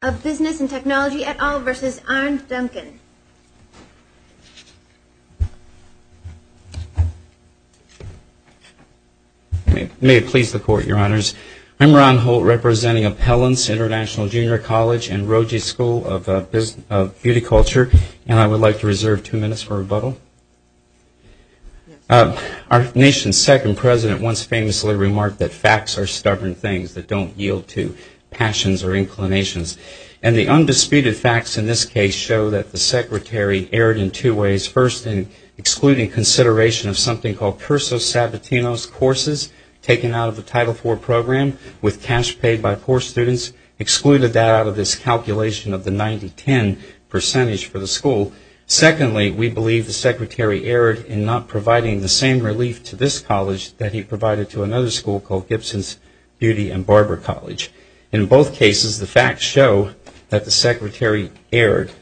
I'm Ron Holt, representing Appellants International Junior College and Roger's School of Beauty Culture and I would like to reserve two minutes for rebuttal. Our nation's second president once famously remarked that facts are stubborn things that don't yield to passions or inclinations. And the undisputed facts in this case show that the secretary erred in two ways. First in excluding consideration of something called Cursus Sabatinos courses taken out of the Title IV program with cash paid by poor students, excluded that out of this calculation of the 90-10 percentage for the school. Secondly, we believe the secretary erred in not providing the same relief to this college that he provided to another school called Gibson's Beauty and Barber College. In both cases, the facts show that the secretary erred.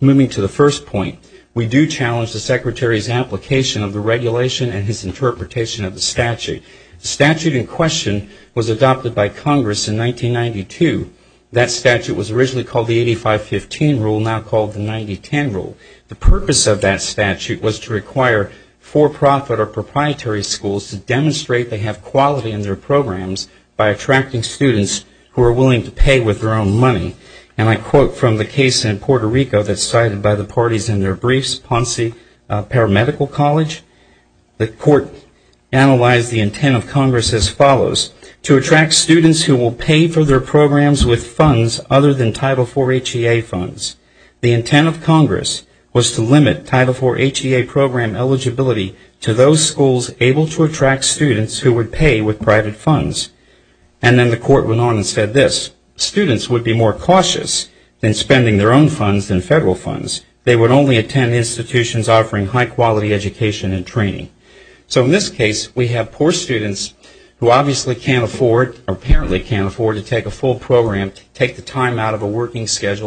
Moving to the first point, we do challenge the secretary's application of the regulation and his interpretation of the statute. The statute in question was adopted by Congress in 1992. That statute was originally called the 85-15 rule, now called the 90-10 rule. The purpose of that statute was to require for-profit or proprietary schools to demonstrate they have quality in their programs by attracting students who are willing to pay with their own money. And I quote from the case in Puerto Rico that's cited by the parties in their briefs, Ponce Paramedical College, the court analyzed the intent of Congress as follows, to attract students who will pay for their programs with funds other than Title IV HEA funds. The intent of Congress was to limit Title IV HEA program eligibility to those schools able to attract students who would pay with private funds. And then the court went on and said this, students would be more cautious in spending their own funds than federal funds. They would only attend institutions offering high-quality education and training. So in this case, we have poor students who obviously can't afford, or apparently can't schedule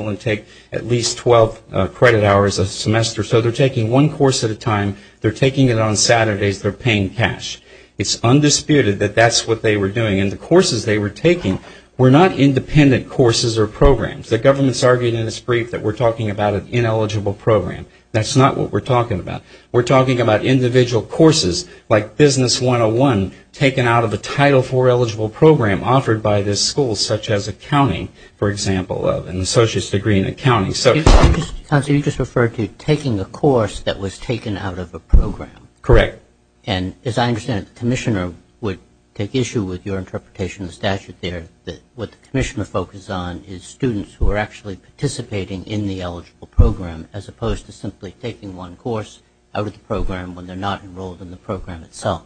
and take at least 12 credit hours a semester. So they're taking one course at a time, they're taking it on Saturdays, they're paying cash. It's undisputed that that's what they were doing, and the courses they were taking were not independent courses or programs. The government's argued in its brief that we're talking about an ineligible program. That's not what we're talking about. We're talking about individual courses like Business 101 taken out of a Title IV eligible program offered by this school, such as Accounting, for example, an Associate's Degree in Accounting. So you just referred to taking a course that was taken out of a program. Correct. And as I understand it, the Commissioner would take issue with your interpretation of the statute there, that what the Commissioner focused on is students who are actually participating in the eligible program, as opposed to simply taking one course out of the program when they're not enrolled in the program itself.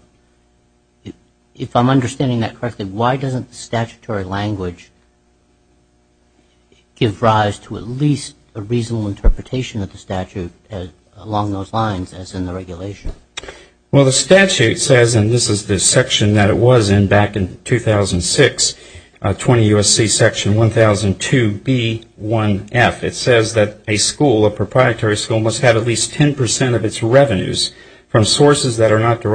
If I'm understanding that correctly, why doesn't the statutory language give rise to at least a reasonable interpretation of the statute along those lines, as in the regulation? Well, the statute says, and this is the section that it was in back in 2006, 20 U.S.C. section 1002B1F, it says that a school, a proprietary school, must have at least 10 percent of its tuition, as provided under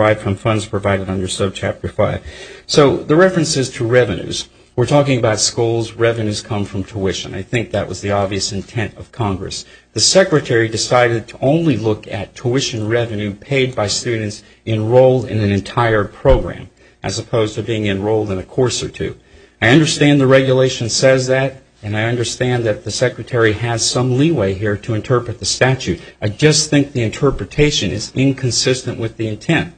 Subchapter 5. So the references to revenues, we're talking about schools, revenues come from tuition. I think that was the obvious intent of Congress. The Secretary decided to only look at tuition revenue paid by students enrolled in an entire program, as opposed to being enrolled in a course or two. I understand the regulation says that, and I understand that the Secretary has some leeway here to interpret the statute. I just think the interpretation is inconsistent with the intent.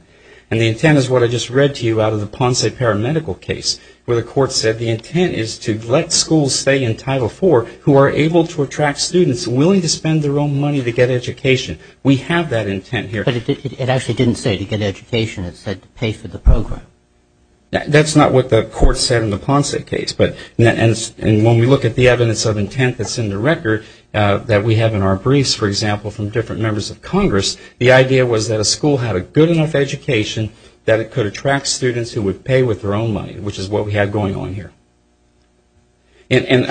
And the intent is what I just read to you out of the Ponce Paramedical case, where the court said the intent is to let schools stay in Title IV who are able to attract students willing to spend their own money to get education. We have that intent here. But it actually didn't say to get education. It said to pay for the program. That's not what the court said in the Ponce case. But when we look at the evidence of intent that's in the record that we have in our briefs, for example, from different members of Congress, the idea was that a school had a good enough education that it could attract students who would pay with their own money, which is what we have going on here. And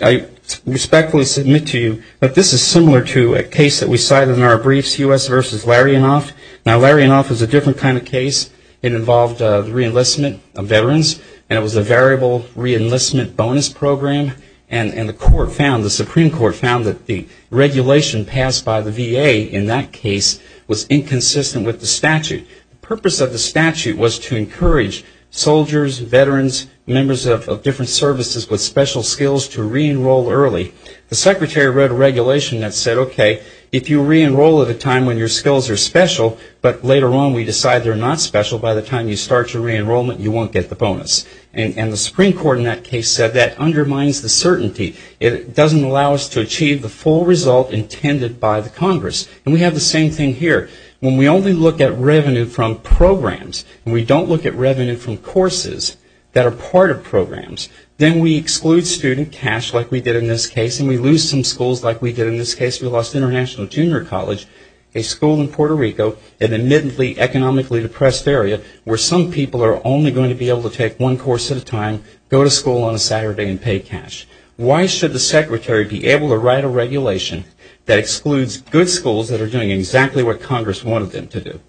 I respectfully submit to you that this is similar to a case that we cited in our briefs, U.S. v. Larianoff. Now Larianoff is a different kind of case. It involved the re-enlistment of veterans, and it was a variable re-enlistment bonus program. And the Supreme Court found that the regulation passed by the VA in that case was inconsistent with the statute. The purpose of the statute was to encourage soldiers, veterans, members of different services with special skills to re-enroll early. The Secretary wrote a regulation that said, okay, if you re-enroll at a time when your skills are special, but later on we decide they're not special, by the time you start your re-enrollment you won't get the bonus. And the Supreme Court in that case said that undermines the certainty. It doesn't allow us to achieve the full result intended by the Congress. And we have the same thing here. When we only look at revenue from programs, and we don't look at revenue from courses that are part of programs, then we exclude student cash like we did in this case, and we lose some schools like we did in this case. We lost International Junior College, a school in Puerto Rico, an admittedly economically depressed area where some people are only going to be able to take one course at a time, go to school on a Saturday and pay cash. Why should the Secretary be able to write a regulation that excludes good schools that are doing exactly what Congress wanted them to do?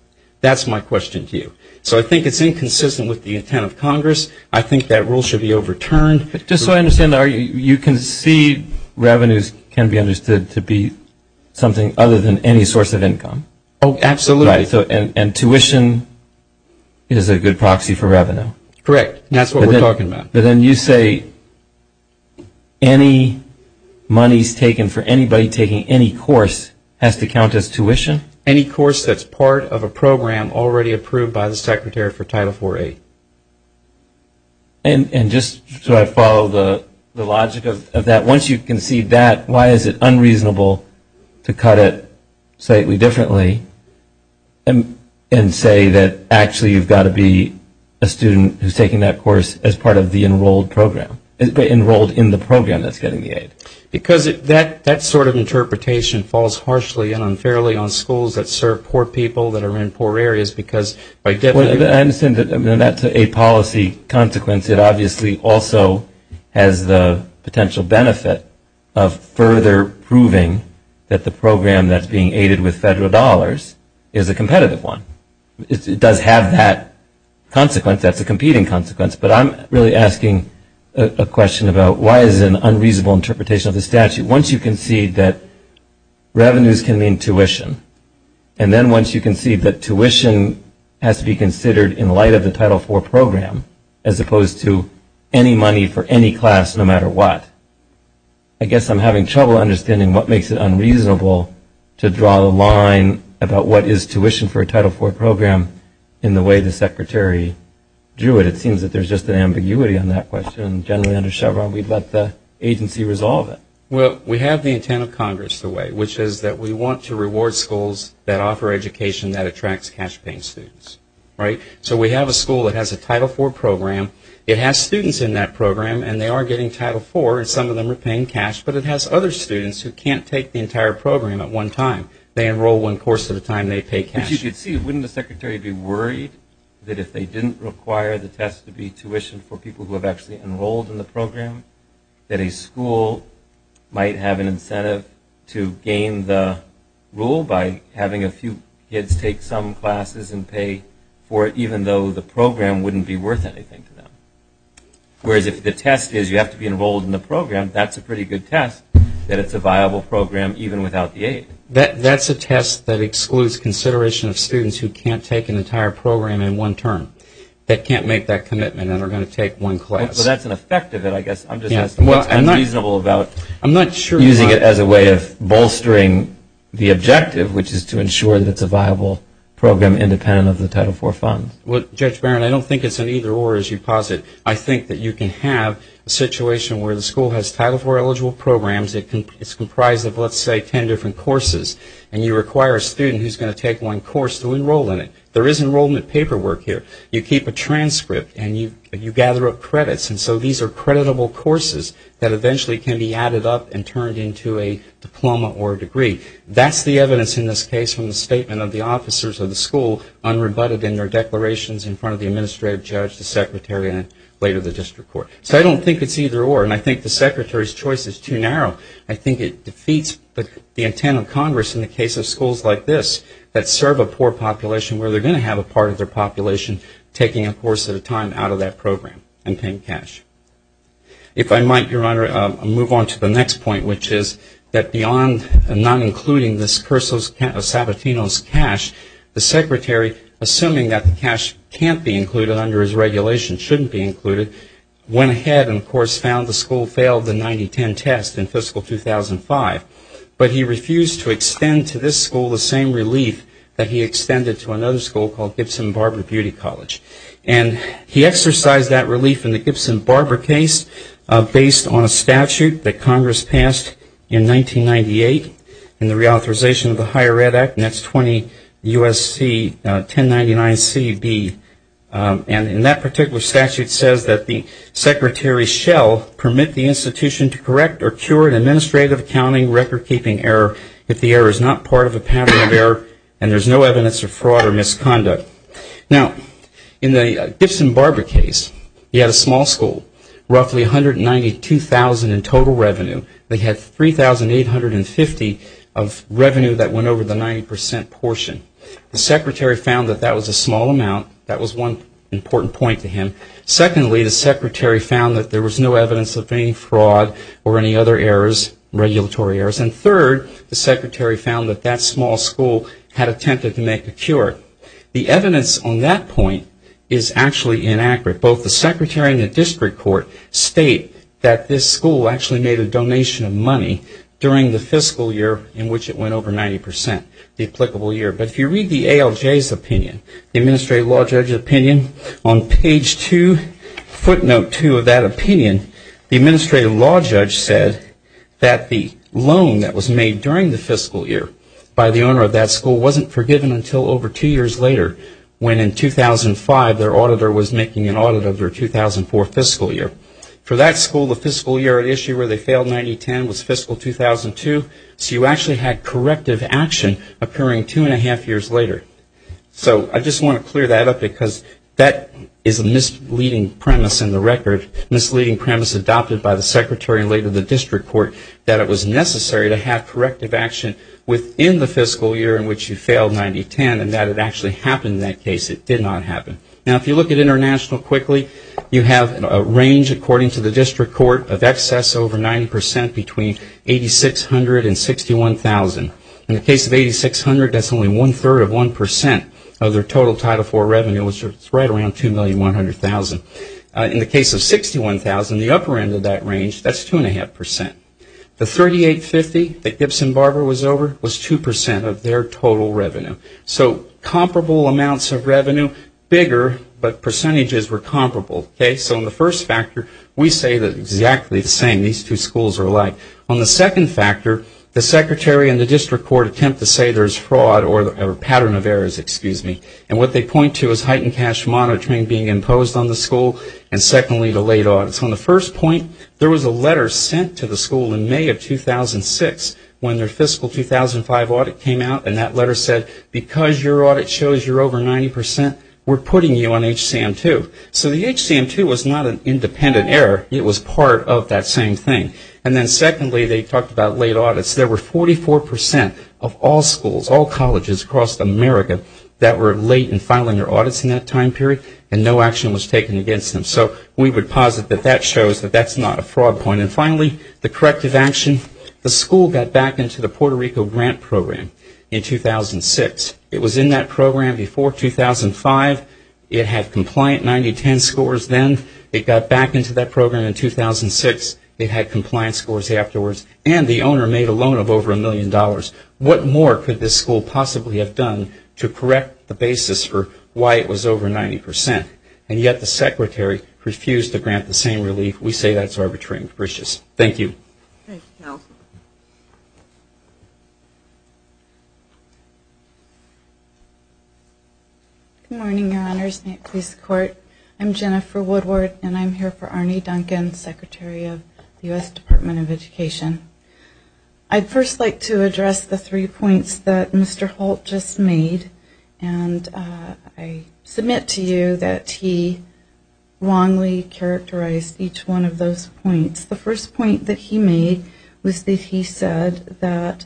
That's my question to you. So I think it's inconsistent with the intent of Congress. I think that rule should be overturned. Just so I understand, you concede revenues can be understood to be something other than any source of income? Oh, absolutely. And tuition is a good proxy for revenue? Correct. That's what we're talking about. But then you say any monies taken for anybody taking any course has to count as tuition? Any course that's part of a program already approved by the Secretary for Title IV-VIII. And just so I follow the logic of that, once you concede that, why is it unreasonable to cut it slightly differently and say that actually you've got to be a student who's taking that course as part of the enrolled program, enrolled in the program that's getting the aid? Because that sort of interpretation falls harshly and unfairly on schools that serve poor people that are in poor areas. Because I get that. I understand that that's a policy consequence. It obviously also has the potential benefit of further proving that the program that's being aided with federal dollars is a competitive one. It does have that consequence. That's a competing consequence. But I'm really asking a question about why is it an unreasonable interpretation of the statute? Once you concede that revenues can mean tuition, and then once you concede that tuition has to be considered in light of the Title IV program, as opposed to any money for any class no matter what, I guess I'm having trouble understanding what makes it unreasonable to do it. It seems that there's just an ambiguity on that question. Generally under Chevron, we'd let the agency resolve it. Well, we have the intent of Congress to wait, which is that we want to reward schools that offer education that attracts cash-paying students, right? So we have a school that has a Title IV program. It has students in that program, and they are getting Title IV, and some of them are paying cash. But it has other students who can't take the entire program at one time. They enroll one course at a time. They pay cash. As you can see, wouldn't the Secretary be worried that if they didn't require the test to be tuition for people who have actually enrolled in the program, that a school might have an incentive to gain the rule by having a few kids take some classes and pay for it, even though the program wouldn't be worth anything to them? Whereas if the test is you have to be enrolled in the program, that's a pretty good test that it's a viable program even without the aid. That's a test that excludes consideration of students who can't take an entire program in one term, that can't make that commitment, and are going to take one class. Well, that's an effect of it, I guess. I'm just asking what's reasonable about using it as a way of bolstering the objective, which is to ensure that it's a viable program independent of the Title IV funds. Well, Judge Barron, I don't think it's an either-or, as you posit. I think that you can have a situation where the school has Title IV-eligible programs. It's comprised of, let's say, ten different courses, and you require a student who's going to take one course to enroll in it. There is enrollment paperwork here. You keep a transcript, and you gather up credits, and so these are creditable courses that eventually can be added up and turned into a diploma or a degree. That's the evidence in this case from the statement of the officers of the school unrebutted in their declarations in front of the administrative judge, the secretary, and later the district court. So I don't think it's either-or, and I think the secretary's choice is too narrow. I think it defeats the intent of Congress in the case of schools like this that serve a poor population where they're going to have a part of their population taking a course at a time out of that program and paying cash. If I might, Your Honor, move on to the next point, which is that beyond not including this cursus sabatinos cash, the secretary, assuming that the cash can't be included under his regulation shouldn't be included, went ahead and, of course, found the school failed the 90-10 test in fiscal 2005. But he refused to extend to this school the same relief that he extended to another school called Gibson Barber Beauty College. And he exercised that relief in the Gibson Barber case based on a statute that Congress And that particular statute says that the secretary shall permit the institution to correct or cure an administrative accounting record-keeping error if the error is not part of a pattern of error and there's no evidence of fraud or misconduct. Now in the Gibson Barber case, he had a small school, roughly $192,000 in total revenue. They had $3,850 of revenue that went over the 90% portion. The secretary found that that was a small amount. That was one important point to him. Secondly, the secretary found that there was no evidence of any fraud or any other errors, regulatory errors. And third, the secretary found that that small school had attempted to make a cure. The evidence on that point is actually inaccurate. Both the secretary and the district court state that this school actually made a donation of money during the fiscal year in which it went over 90%, the applicable year. But if you read the ALJ's opinion, the Administrative Law Judge's opinion, on page 2, footnote 2 of that opinion, the Administrative Law Judge said that the loan that was made during the fiscal year by the owner of that school wasn't forgiven until over two years later, when in 2005 their auditor was making an audit of their 2004 fiscal year. For that school, the fiscal year at issue where they failed 90-10 was fiscal 2002, so you actually had corrective action occurring two and a half years later. So I just want to clear that up because that is a misleading premise in the record, misleading premise adopted by the secretary and later the district court, that it was necessary to have corrective action within the fiscal year in which you failed 90-10 and that it actually happened in that case. It did not happen. Now if you look at international quickly, you have a range, according to the district court, of excess over 90% between $8,600 and $61,000. In the case of $8,600, that's only one-third of 1% of their total Title IV revenue, which is right around $2,100,000. In the case of $61,000, the upper end of that range, that's two and a half percent. The $3,850 that Gibson Barber was over was 2% of their total revenue. So comparable amounts of revenue, bigger, but percentages were comparable. So in the first factor, we say that exactly the same, these two schools are alike. On the second factor, the secretary and the district court attempt to say there's fraud or a pattern of errors, excuse me, and what they point to is heightened cash monitoring being imposed on the school and secondly, delayed audits. On the first point, there was a letter sent to the school in May of 2006 when their fiscal 2005 audit came out and that letter said, because your audit shows you're over 90%, we're putting you on HCM2. So the HCM2 was not an independent error, it was part of that same thing. And then secondly, they talked about late audits. There were 44% of all schools, all colleges across America that were late in filing their audits in that time period and no action was taken against them. So we would posit that that shows that that's not a fraud point. And finally, the corrective action. The school got back into the Puerto Rico grant program in 2006. It was in that program before 2005. It had compliant 90-10 scores then. It got back into that program in 2006. It had compliant scores afterwards and the owner made a loan of over a million dollars. What more could this school possibly have done to correct the basis for why it was over 90%? And yet the secretary refused to grant the same relief. We say that's arbitrary and capricious. Thank you. Thank you, Carol. Good morning, your honors, and your police court. I'm Jennifer Woodward and I'm here for Arne Duncan, Secretary of the U.S. Department of Education. I'd first like to address the three points that Mr. Holt just made. And I submit to you that he wrongly characterized each one of those points. The first point that he made was that he said that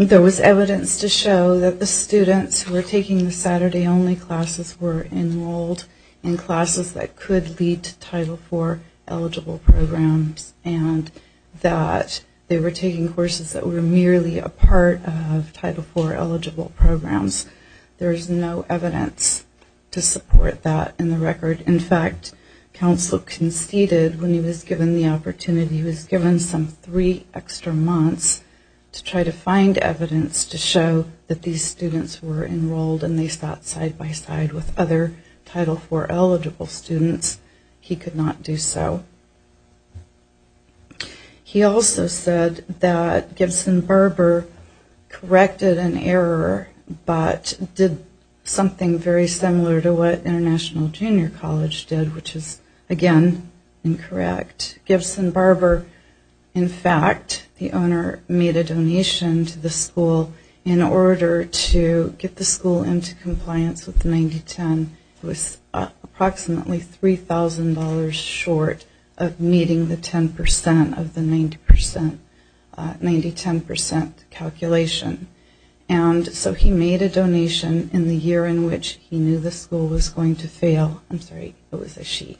there was evidence to show that the students who were taking the Saturday-only classes were enrolled in classes that could lead to Title IV-eligible programs and that they were taking courses that were merely a part of Title IV-eligible programs. There's no evidence to support that in the record. In fact, counsel conceded when he was given the opportunity, he was given some three extra months to try to find evidence to show that these students were enrolled and they sat side-by-side with other Title IV-eligible students. He could not do so. He also said that Gibson-Barber corrected an error but did something very similar to what International Junior College did, which is, again, incorrect. Gibson-Barber, in fact, the owner made a donation to the school in order to get the school into compliance with the 9010. It was approximately $3,000 short of meeting the 10% of the 9010 calculation. He made a donation in the year in which he knew the school was going to fail. I'm sorry, it was a she.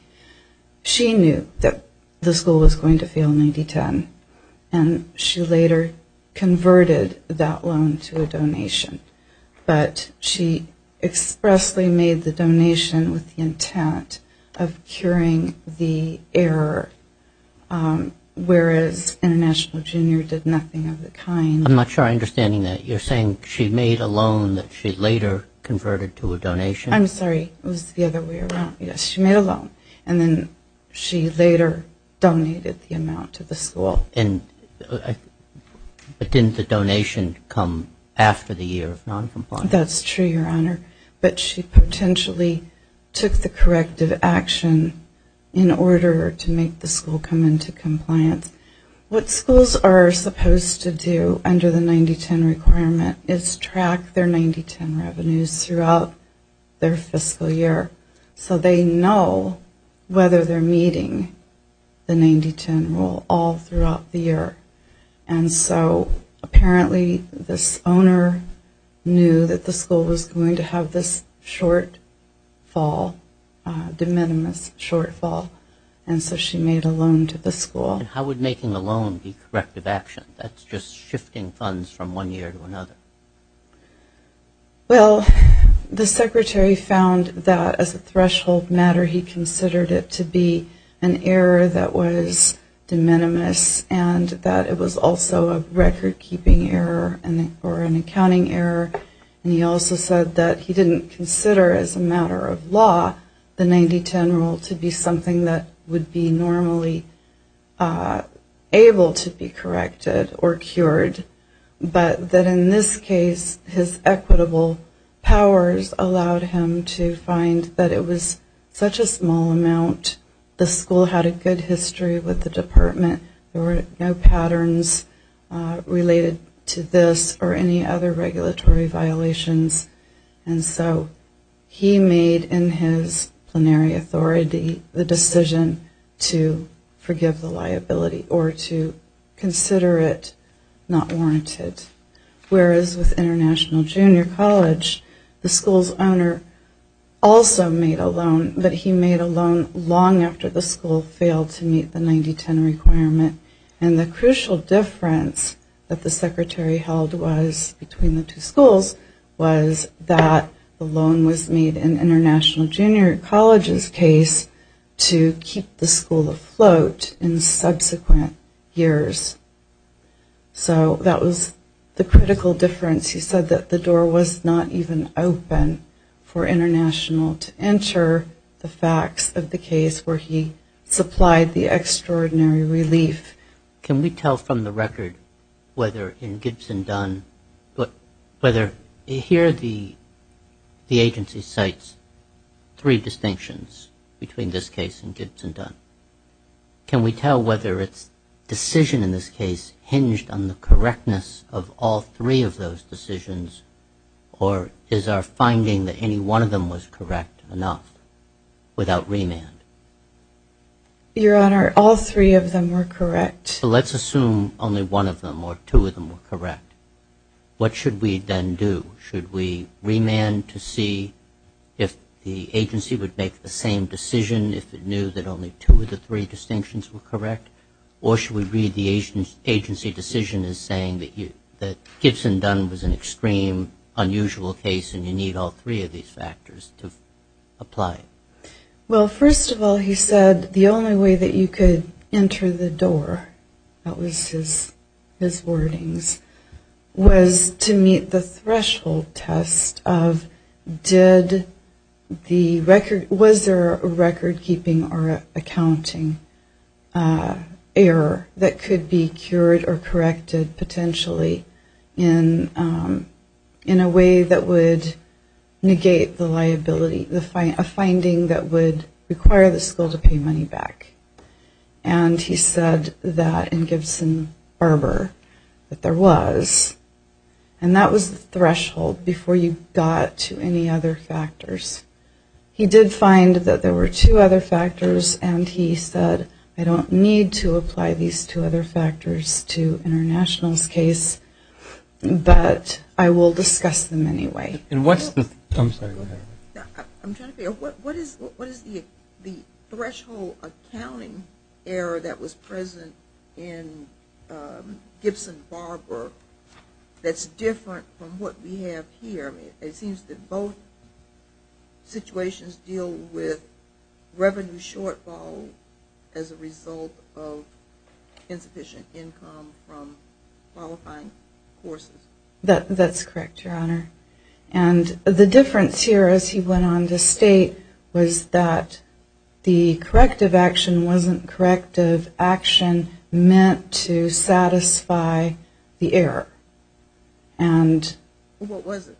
She knew that the school was going to fail in 9010. She later converted that loan to a donation. But she expressly made the donation with the intent of curing the error, whereas International Junior did nothing of the kind. I'm not sure I understand that. You're saying she made a loan that she later converted to a donation? I'm sorry, it was the other way around. Yes, she made a loan and then she later donated the amount to the school. But didn't the donation come after the year of noncompliance? That's true, Your Honor, but she potentially took the corrective action in order to make the school come into compliance. What schools are supposed to do under the 9010 requirement is track their 9010 revenues throughout their fiscal year so they know whether they're meeting the 9010 rule all throughout the year. And so apparently this owner knew that the school was going to have this shortfall, de minimis shortfall, and so she made a loan to the school. How would making a loan be corrective action? That's just shifting funds from one year to another. Well, the Secretary found that as a threshold matter he considered it to be an error that was de minimis and that it was also a record-keeping error or an accounting error. And he also said that he didn't consider as a matter of law the 9010 rule to be something that would be normally able to be corrected or cured, but that in this case his equitable powers allowed him to find that it was such a small amount, the school had a good history with the department, there were no patterns related to this or any other regulatory violations, and so he made in his plenary authority the decision to forgive the liability or to consider it not warranted. Whereas with International Junior College, the school's owner also made a loan, but he made a loan long after the school failed to meet the 9010 requirement, and the crucial difference that the Secretary held was, between the two schools, was that the loan was made in International Junior College's case to keep the school afloat in subsequent years. So, that was the critical difference. He said that the door was not even open for International to enter the facts of the case where he supplied the extraordinary relief. Can we tell from the record whether in Gibson Dunn, whether here the agency cites three distinctions in this case hinged on the correctness of all three of those decisions, or is our finding that any one of them was correct enough without remand? Your Honor, all three of them were correct. Let's assume only one of them or two of them were correct. What should we then do? Should we remand to see if the agency would make the same decision if it knew that only two of the three distinctions were correct, or should we read the agency decision as saying that Gibson Dunn was an extreme, unusual case and you need all three of these factors to apply? Well, first of all, he said the only way that you could enter the door, that was his wordings, was to meet the threshold test of did the record, was there a record keeping account accounting error that could be cured or corrected potentially in a way that would negate the liability, a finding that would require the school to pay money back. And he said that in Gibson Harbor that there was, and that was the threshold before you got to any other factors, and he said I don't need to apply these two other factors to international's case, but I will discuss them anyway. And what's the, I'm sorry, go ahead. I'm trying to figure out what is the threshold accounting error that was present in Gibson Harbor that's different from what we have here? It seems that both situations deal with revenue shortfall as a result of insufficient income from qualifying courses. That's correct, Your Honor. And the difference here as he went on to state was that the corrective action wasn't corrective action meant to satisfy the error. What was it?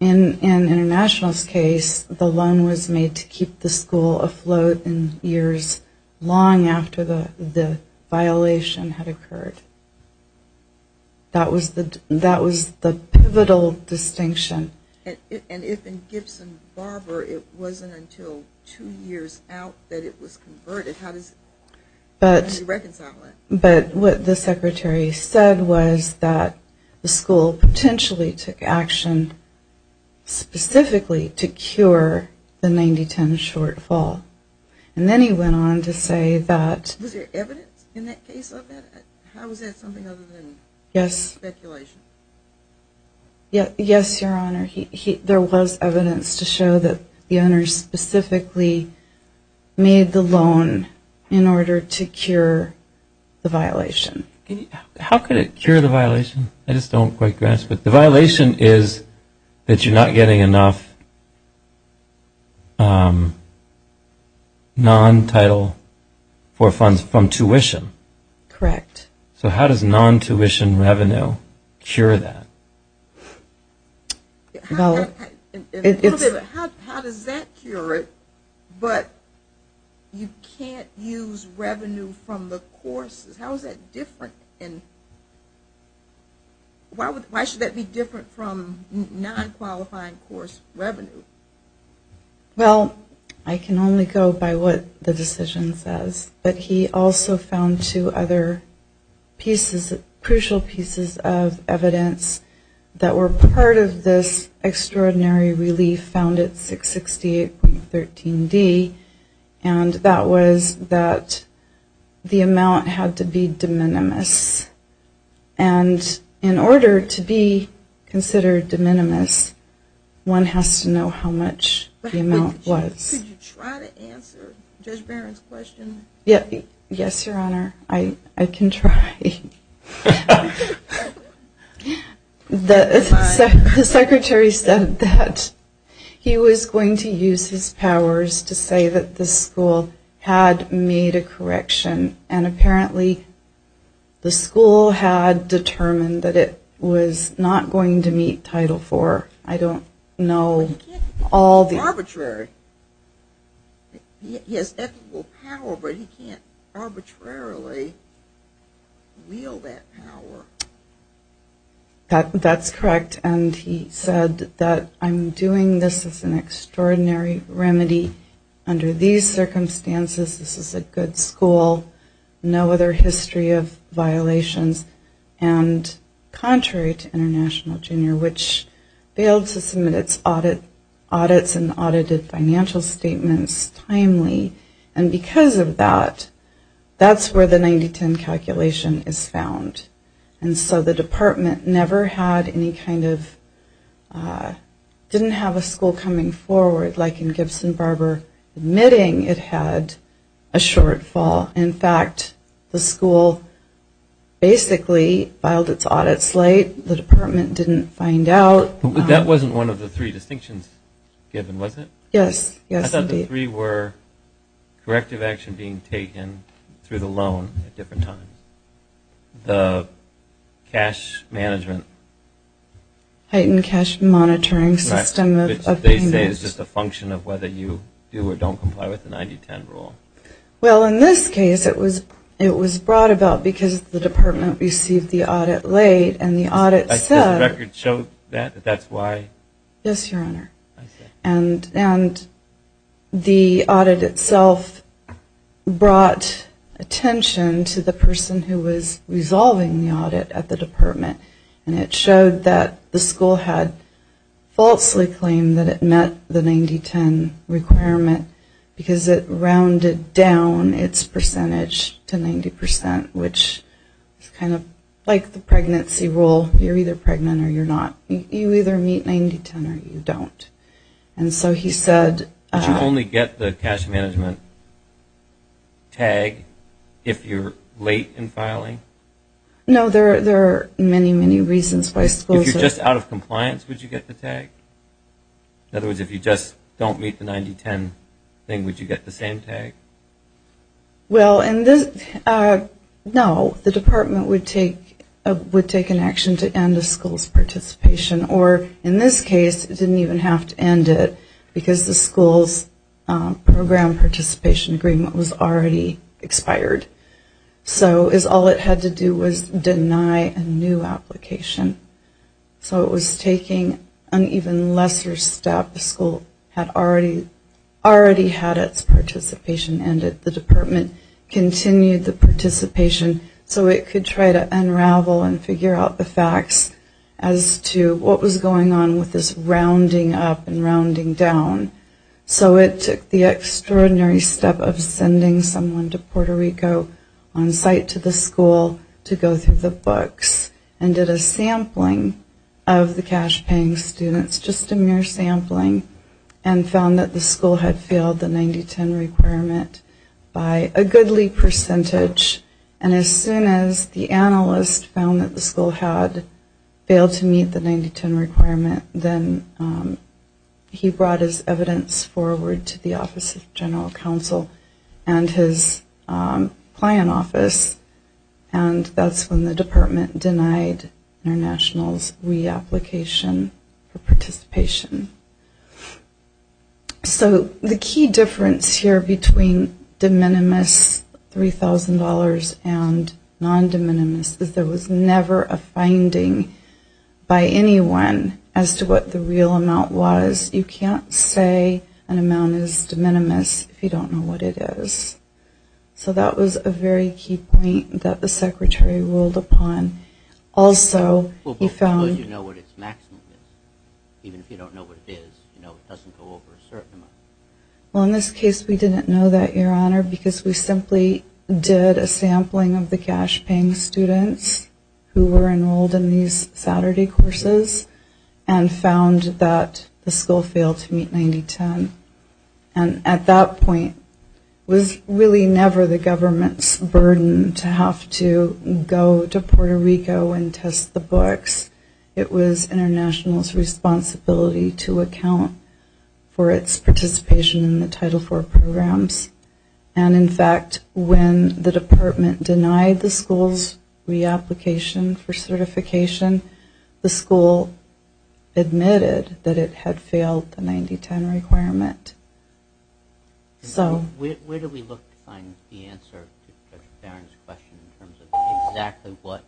In international's case, the loan was made to keep the school afloat in years long after the violation had occurred. That was the pivotal distinction. And if in Gibson Harbor it wasn't until two years out that it was converted, how does he reconcile it? But what the secretary said was that the school potentially took action specifically to cure the 90-10 shortfall. And then he went on to say that... Was there evidence in that case of that? How was that something other than speculation? Yes, Your Honor. There was evidence to show that the owner specifically made the loan in order to cure the violation. How could it cure the violation? I just don't quite grasp it. The violation is that you're not getting enough non-title for funds from tuition. Correct. So how does non-tuition revenue cure that? How does that cure it but you can't use revenue from the courses? How is that different? Why should that be different from non-qualifying course revenue? Well, I can only go by what the decision says. But he also found two other pieces, crucial pieces of evidence that were part of this extraordinary relief found at 668.13D. And that was that the amount had to be de minimis. And in order to be considered de minimis, one has to know how much the amount was. Could you try to answer Judge Barron's question? Yes, Your Honor. I can try. The Secretary said that he was going to use his powers to say that the school had made a correction. And apparently the school had determined that it was not going to meet Title IV. I don't know all the... But he can't arbitrarily wield that power. That's correct. And he said that I'm doing this as an extraordinary remedy under these circumstances. This is a good school. No other history of violations. And contrary to International Junior, which failed to submit its audits and audited financial statements timely. And because of that, that's where the 9010 calculation is found. And so the department never had any kind of... Didn't have a school coming forward like in Gibson-Barber admitting it had a shortfall. In fact, the school basically filed its audits late. The department didn't find out. That wasn't one of the three distinctions given, was it? Yes. I thought the three were corrective action being taken through the loan at different times. The cash management... Heightened cash monitoring system of payments. They say it's just a function of whether you do or don't comply with the 9010 rule. Well in this case, it was brought about because the department received the audit late and the audit said... The record showed that, that that's why? Yes, Your Honor. And the audit itself brought attention to the person who was resolving the audit at the department. And it showed that the school had falsely claimed that it met the 9010 requirement because it rounded down its percentage to 90%, which is kind of like the pregnancy rule. You're either pregnant or you're not. You either meet 9010 or you don't. And so he said... Did you only get the cash management tag if you're late in filing? No, there are many, many reasons why schools... If you're just out of compliance, would you get the tag? In other words, if you just don't meet the 9010 thing, would you get the same tag? Well, no. The department would take an action to end a school's participation, or in this case, it didn't even have to end it because the school's program participation agreement was already expired. So all it had to do was deny a new application. So it was taking an even lesser step. The school had already had its participation ended. The department continued the participation so it could try to unravel and figure out the facts as to what was going on with this rounding up and rounding down. So it took the extraordinary step of sending someone to Puerto Rico on site to the school to go through the books and did a sampling of the cash-paying students, just a mere sampling, and found that the school had failed the 9010 requirement by a goodly percentage. And as soon as the analyst found that the school had failed to meet the 9010 requirement, then he brought his evidence forward to the Office of General Counsel and his client office. And that's when the department denied international reapplication for participation. So the key difference here between de minimis, $3,000, and non-de minimis is there was never a finding by anyone as to what the real amount was. You can't say an amount is de minimis if you don't know what it is. So that was a very key point that the secretary ruled upon. Also, he found... Well, because you know what its maximum is. Even if you don't know what it is, you know, it doesn't go over a certain amount. Well, in this case, we didn't know that, Your Honor, because we simply did a sampling of the cash-paying students who were enrolled in these Saturday courses and found that the school failed to meet 9010. And at that point, it was really never the government's burden to have to go to Puerto Rico and test the books. It was international's responsibility to account for its participation in the Title IV programs. And in fact, when the department denied the school's reapplication for certification, the school admitted that it had failed the 9010 requirement. Where do we look to find the answer to Judge Barron's question in terms of exactly what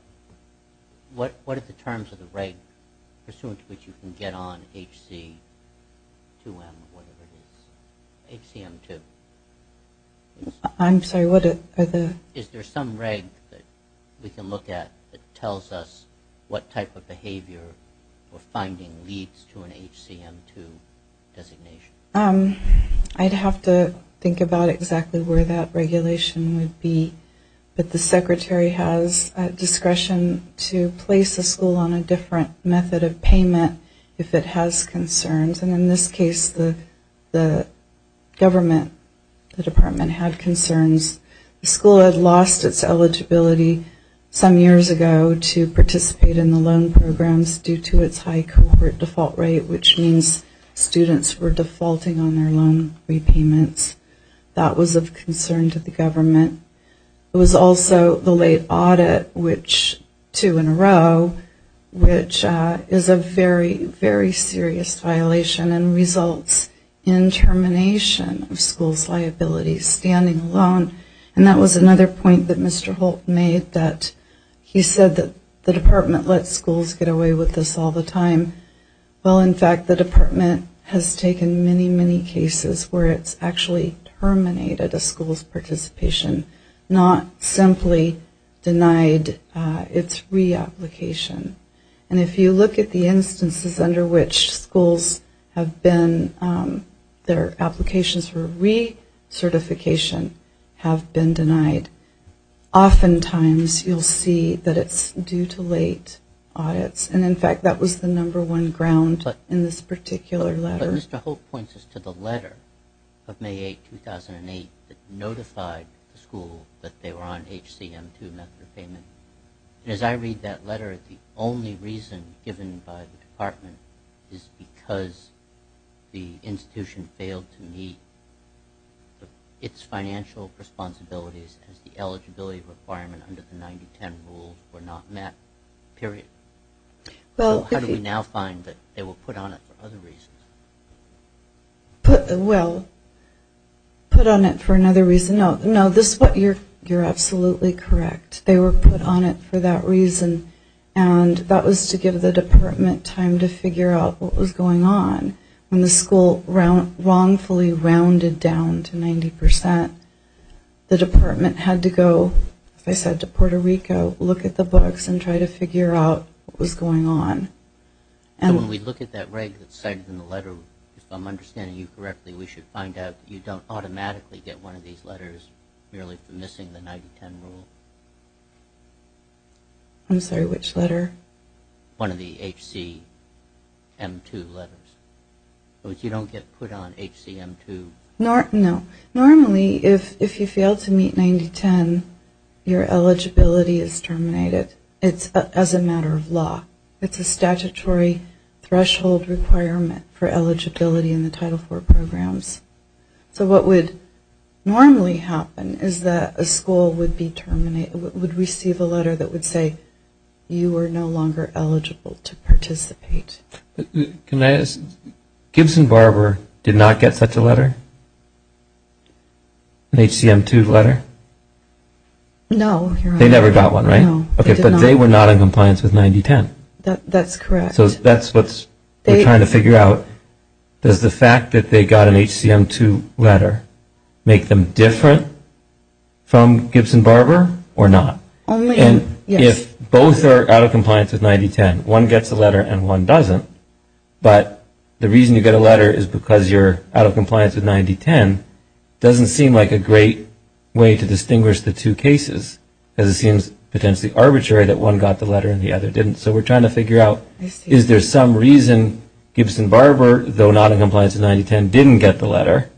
are the terms of the reg pursuant to which you can get on HC2M, whatever it is, HCM2? I'm sorry, what are the... Is there some reg that we can look at that tells us what type of behavior or finding leads to an HCM2 designation? I'd have to think about exactly where that regulation would be. But the Secretary has discretion to place the school on a different method of payment if it has concerns. And in this case, the government, the department, had concerns. The school had lost its eligibility some years ago to participate in the loan programs due to its high corporate default rate, which means students were defaulting on their loan repayments. That was of concern to the government. It was also the late audit, which two in a row, which is a very, very serious violation and results in termination of school's liability standing alone. And that was another point that Mr. Holt made, that he said that the department lets schools get away with this all the time. Well, in fact, the department has taken many, many cases where it's actually terminated a school's participation, not simply denied its reapplication. And if you look at the instances under which schools have been, their applications for pre-certification have been denied, oftentimes you'll see that it's due to late audits. And in fact, that was the number one ground in this particular letter. But Mr. Holt points us to the letter of May 8, 2008 that notified the school that they were on HCM2 method of payment. And as I read that letter, the only reason given by the school was that it's financial responsibilities as the eligibility requirement under the 90-10 rule were not met, period. How do we now find that they were put on it for other reasons? Well, put on it for another reason? No, you're absolutely correct. They were put on it for that reason. And that was to give the department time to figure out what was going on when the school wrongfully rounded down to 90 percent. The department had to go, as I said, to Puerto Rico, look at the books and try to figure out what was going on. So when we look at that reg that's cited in the letter, if I'm understanding you correctly, we should find out you don't automatically get one of these letters merely for missing the 90-10 rule? I'm sorry, which letter? One of the HCM2 letters. So you don't get put on HCM2? No. Normally, if you fail to meet 90-10, your eligibility is terminated. It's as a matter of law. It's a statutory threshold requirement for eligibility in the Title IV programs. So what would normally happen is that a school would receive a letter that would say you are no longer eligible to participate. Can I ask, Gibson-Barber did not get such a letter? An HCM2 letter? No. They never got one, right? But they were not in compliance with 90-10? That's correct. So that's what we're trying to figure out. Does the fact that they got an HCM2 letter make them different from Gibson-Barber or not? Yes. And if both are out of compliance with 90-10, one gets a letter and one doesn't, but the reason you get a letter is because you're out of compliance with 90-10, doesn't seem like a great way to distinguish the two cases because it seems potentially arbitrary that one got the letter and the other didn't. So we're trying to figure out is there some reason Gibson-Barber, though not in compliance with 90-10, didn't get the letter,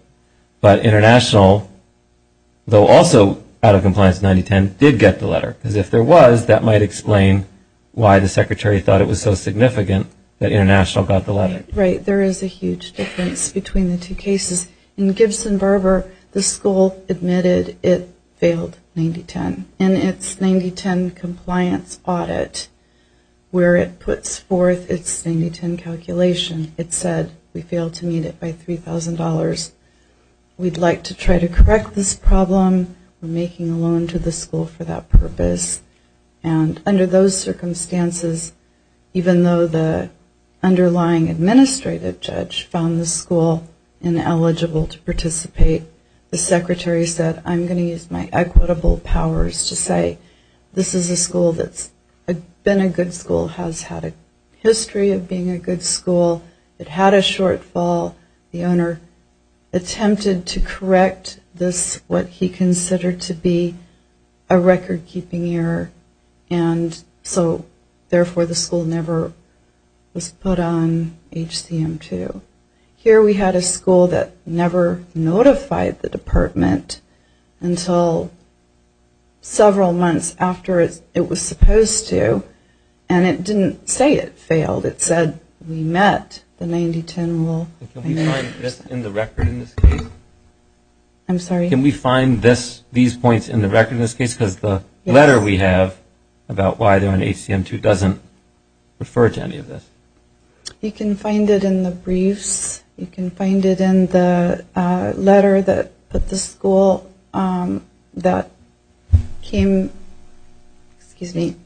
but International, though also out of compliance with 90-10, did get the letter? Because if there was, that might explain why the Secretary thought it was so significant that International got the letter. Right. There is a huge difference between the two cases. In Gibson-Barber, the school admitted it failed 90-10. In its 90-10 compliance audit, where it puts forth its 90-10 calculation, it said we failed to meet it by $3,000. We'd like to try to correct this problem. We're not eligible for that purpose. And under those circumstances, even though the underlying administrative judge found the school ineligible to participate, the Secretary said, I'm going to use my equitable powers to say this is a school that's been a good school, has had a history of being a good school, it had a shortfall. The owner attempted to correct this, what he considered to be a record-keeping error, and so therefore the school never was put on HCM-2. Here we had a school that never notified the department until several months after it was supposed to, and it didn't say it failed. It said we met the 90-10 rule. Can we find this in the record in this case? I'm sorry? Can we find this, these points in the record in this case? Because the letter we have about why they're on HCM-2 doesn't refer to any of this. You can find it in the briefs. You can find it in the letter that the school that came, excuse me,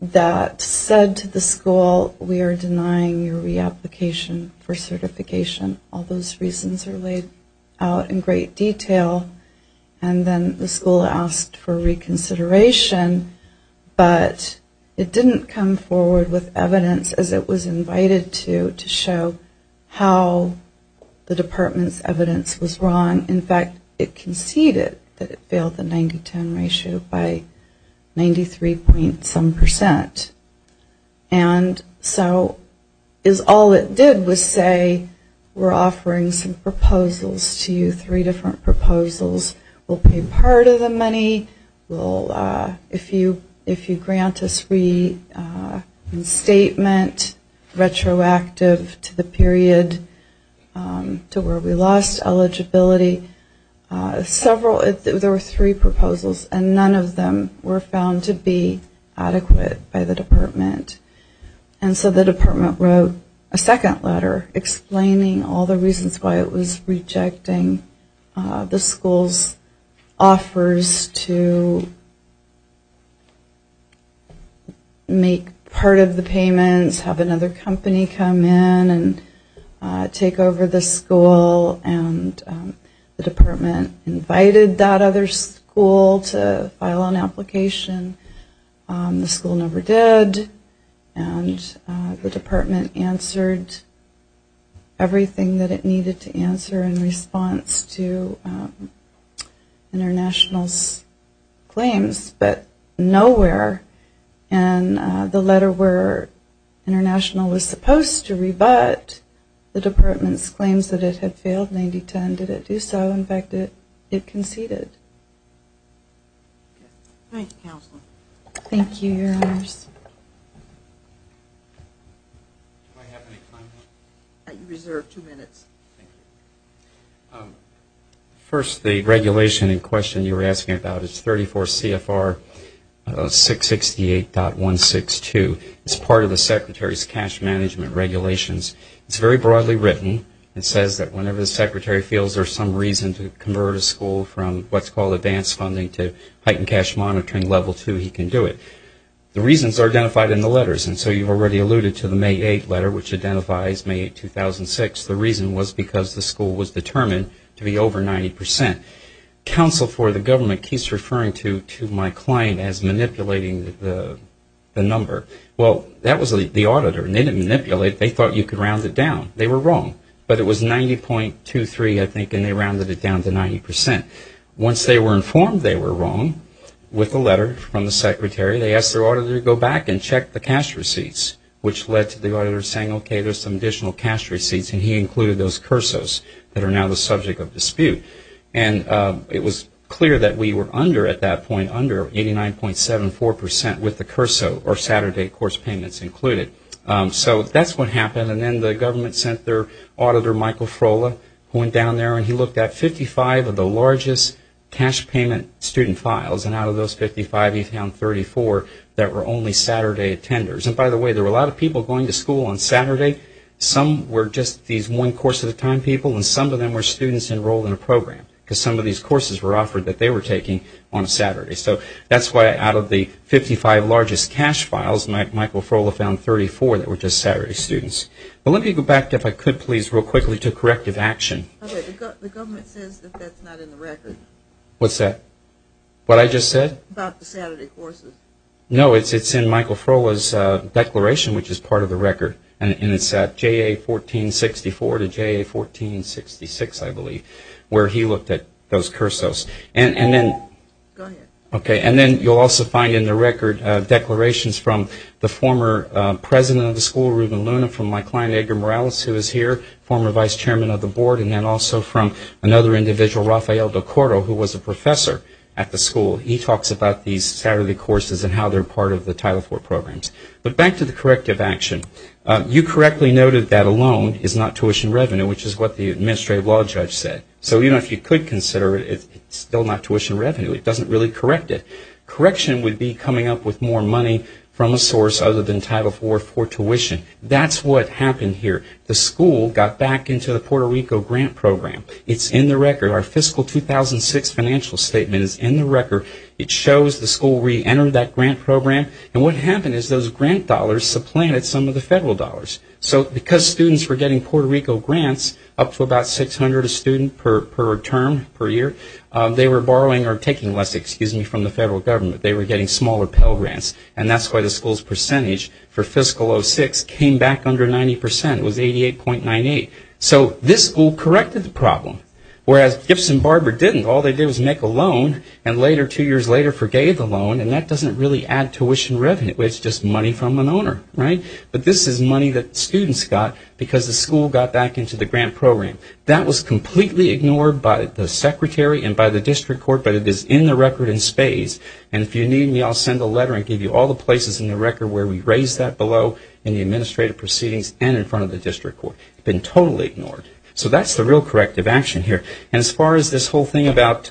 that said to the school, we are denying your reapplication for certification. All those reasons are laid out in great detail, and then the school asked for reconsideration, but it didn't come forward with evidence, as it was invited to, to show how the department's evidence was wrong. In fact, it conceded that it failed the 90-10 ratio by 93 point some percent, and so is all it did was to say, we're going to use say, we're offering some proposals to you, three different proposals. We'll pay part of the money. We'll, if you grant us reinstatement, retroactive to the period to where we lost eligibility, several, there were three proposals, and none of them were found to be adequate by the department. And so the department wrote a second letter explaining all the reasons why it was rejecting the school's offers to make part of the payments, have another company come in and take over the school, and the department invited that other school to file an application. The school never did, and the department answered everything that it needed to answer in response to International's claims, but nowhere in the letter where International was supposed to rebut the department's claims that it had failed 90-10 did it do so. In fact, it conceded. Thank you, Counselor. Thank you, Your Honors. First, the regulation in question you were asking about is 34 CFR 668.162. It's part of the Secretary's cash management regulations. It's very broadly written. It says that whenever the Secretary feels there's some reason to convert a school from what's called advanced funding to heightened cash monitoring level two, he can do it. The reasons are identified in the letters, and so you've already alluded to the May 8 letter, which identifies May 8, 2006. The reason was because the school was determined to be over 90%. Counsel for the government keeps referring to my client as manipulating the number. Well, that was the auditor, and they didn't manipulate. They thought you could round it down. They were wrong, but it was 90.23, I think, and they rounded it down to 90%. Once they were informed they were wrong with the letter from the Secretary, they asked their auditor to go back and check the cash receipts, which led to the auditor saying, okay, there's some additional cash receipts, and he included those CURSOs that are now the subject of dispute, and it was clear that we were under, at that point. And then the government sent their auditor, Michael Frohla, who went down there and he looked at 55 of the largest cash payment student files, and out of those 55 he found 34 that were only Saturday attenders. And by the way, there were a lot of people going to school on Saturday. Some were just these one course at a time people, and some of them were students enrolled in a program, because some of these courses were offered that they were taking on Saturday. So that's why out of the 55 largest cash files, Michael Frohla found 34 that were just Saturday students. But let me go back, if I could please, real quickly to corrective action. Okay, the government says that that's not in the record. What's that? What I just said? About the Saturday courses. No, it's in Michael Frohla's declaration, which is part of the record, and it's at JA1464 to JA1466, I believe, where he looked at those CURSOs. And then you'll also find in the record declarations from the former president of the school, Ruben Luna, from my client Edgar Morales, who is here, former vice chairman of the board, and then also from another individual, Rafael Del Cordo, who was a professor at the school. He talks about these Saturday courses and how they're part of the Title IV programs. But back to the corrective action. You correctly noted that alone is not tuition revenue, which is what the administrative law judge said. So even if you could consider it, it's still not tuition revenue. It doesn't really correct it. Correction would be coming up with more money from a source other than Title IV for tuition. That's what happened here. The school got back into the Puerto Rico grant program. It's in the record. Our fiscal 2006 financial statement is in the record. It shows the school reentered that grant program. And what happened is those grant dollars supplanted some of the federal dollars. So because students were getting Puerto Rico grants, up to about 600 a student per term, per year, they were borrowing or taking less, excuse me, from the federal government. They were getting smaller Pell grants. And that's why the school's percentage for fiscal 2006 came back under 90 percent. It was 88.98. So this school corrected the problem, whereas Gibson Barber didn't. All they did was make a loan and later, two years later, forgave the loan. And that doesn't really add tuition revenue. It's just money from an owner, right? But this is money that students got because the school got back into the grant program. That was completely ignored by the secretary and by the district court, but it is in the record in spades. And if you need me, I'll send a letter and give you all the places in the record where we raised that below in the administrative proceedings and in front of the district court. It's been totally ignored. So that's the real corrective action here. And as far as this whole thing about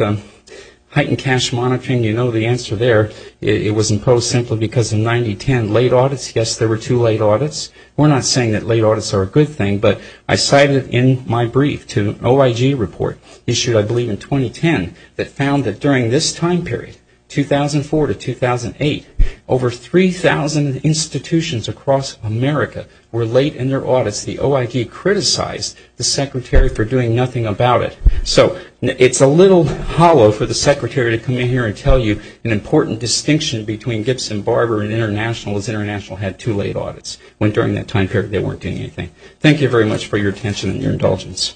heightened cash monitoring, you know the answer there. It was imposed simply because in 1910, late audits, yes, there were two late audits. We're not saying that late audits are a good thing, but I cited in my brief to an OIG report issued, I believe, in 2010 that found that during this time period, 2004 to 2008, over 3,000 institutions across America were late in their audits. The OIG criticized the secretary for doing nothing about it. So it's a little hollow for the secretary to come in here and tell you an important distinction between Gibson Barber and International is International had two late audits. When during that time period, they weren't doing anything. Thank you very much for your attention and your indulgence.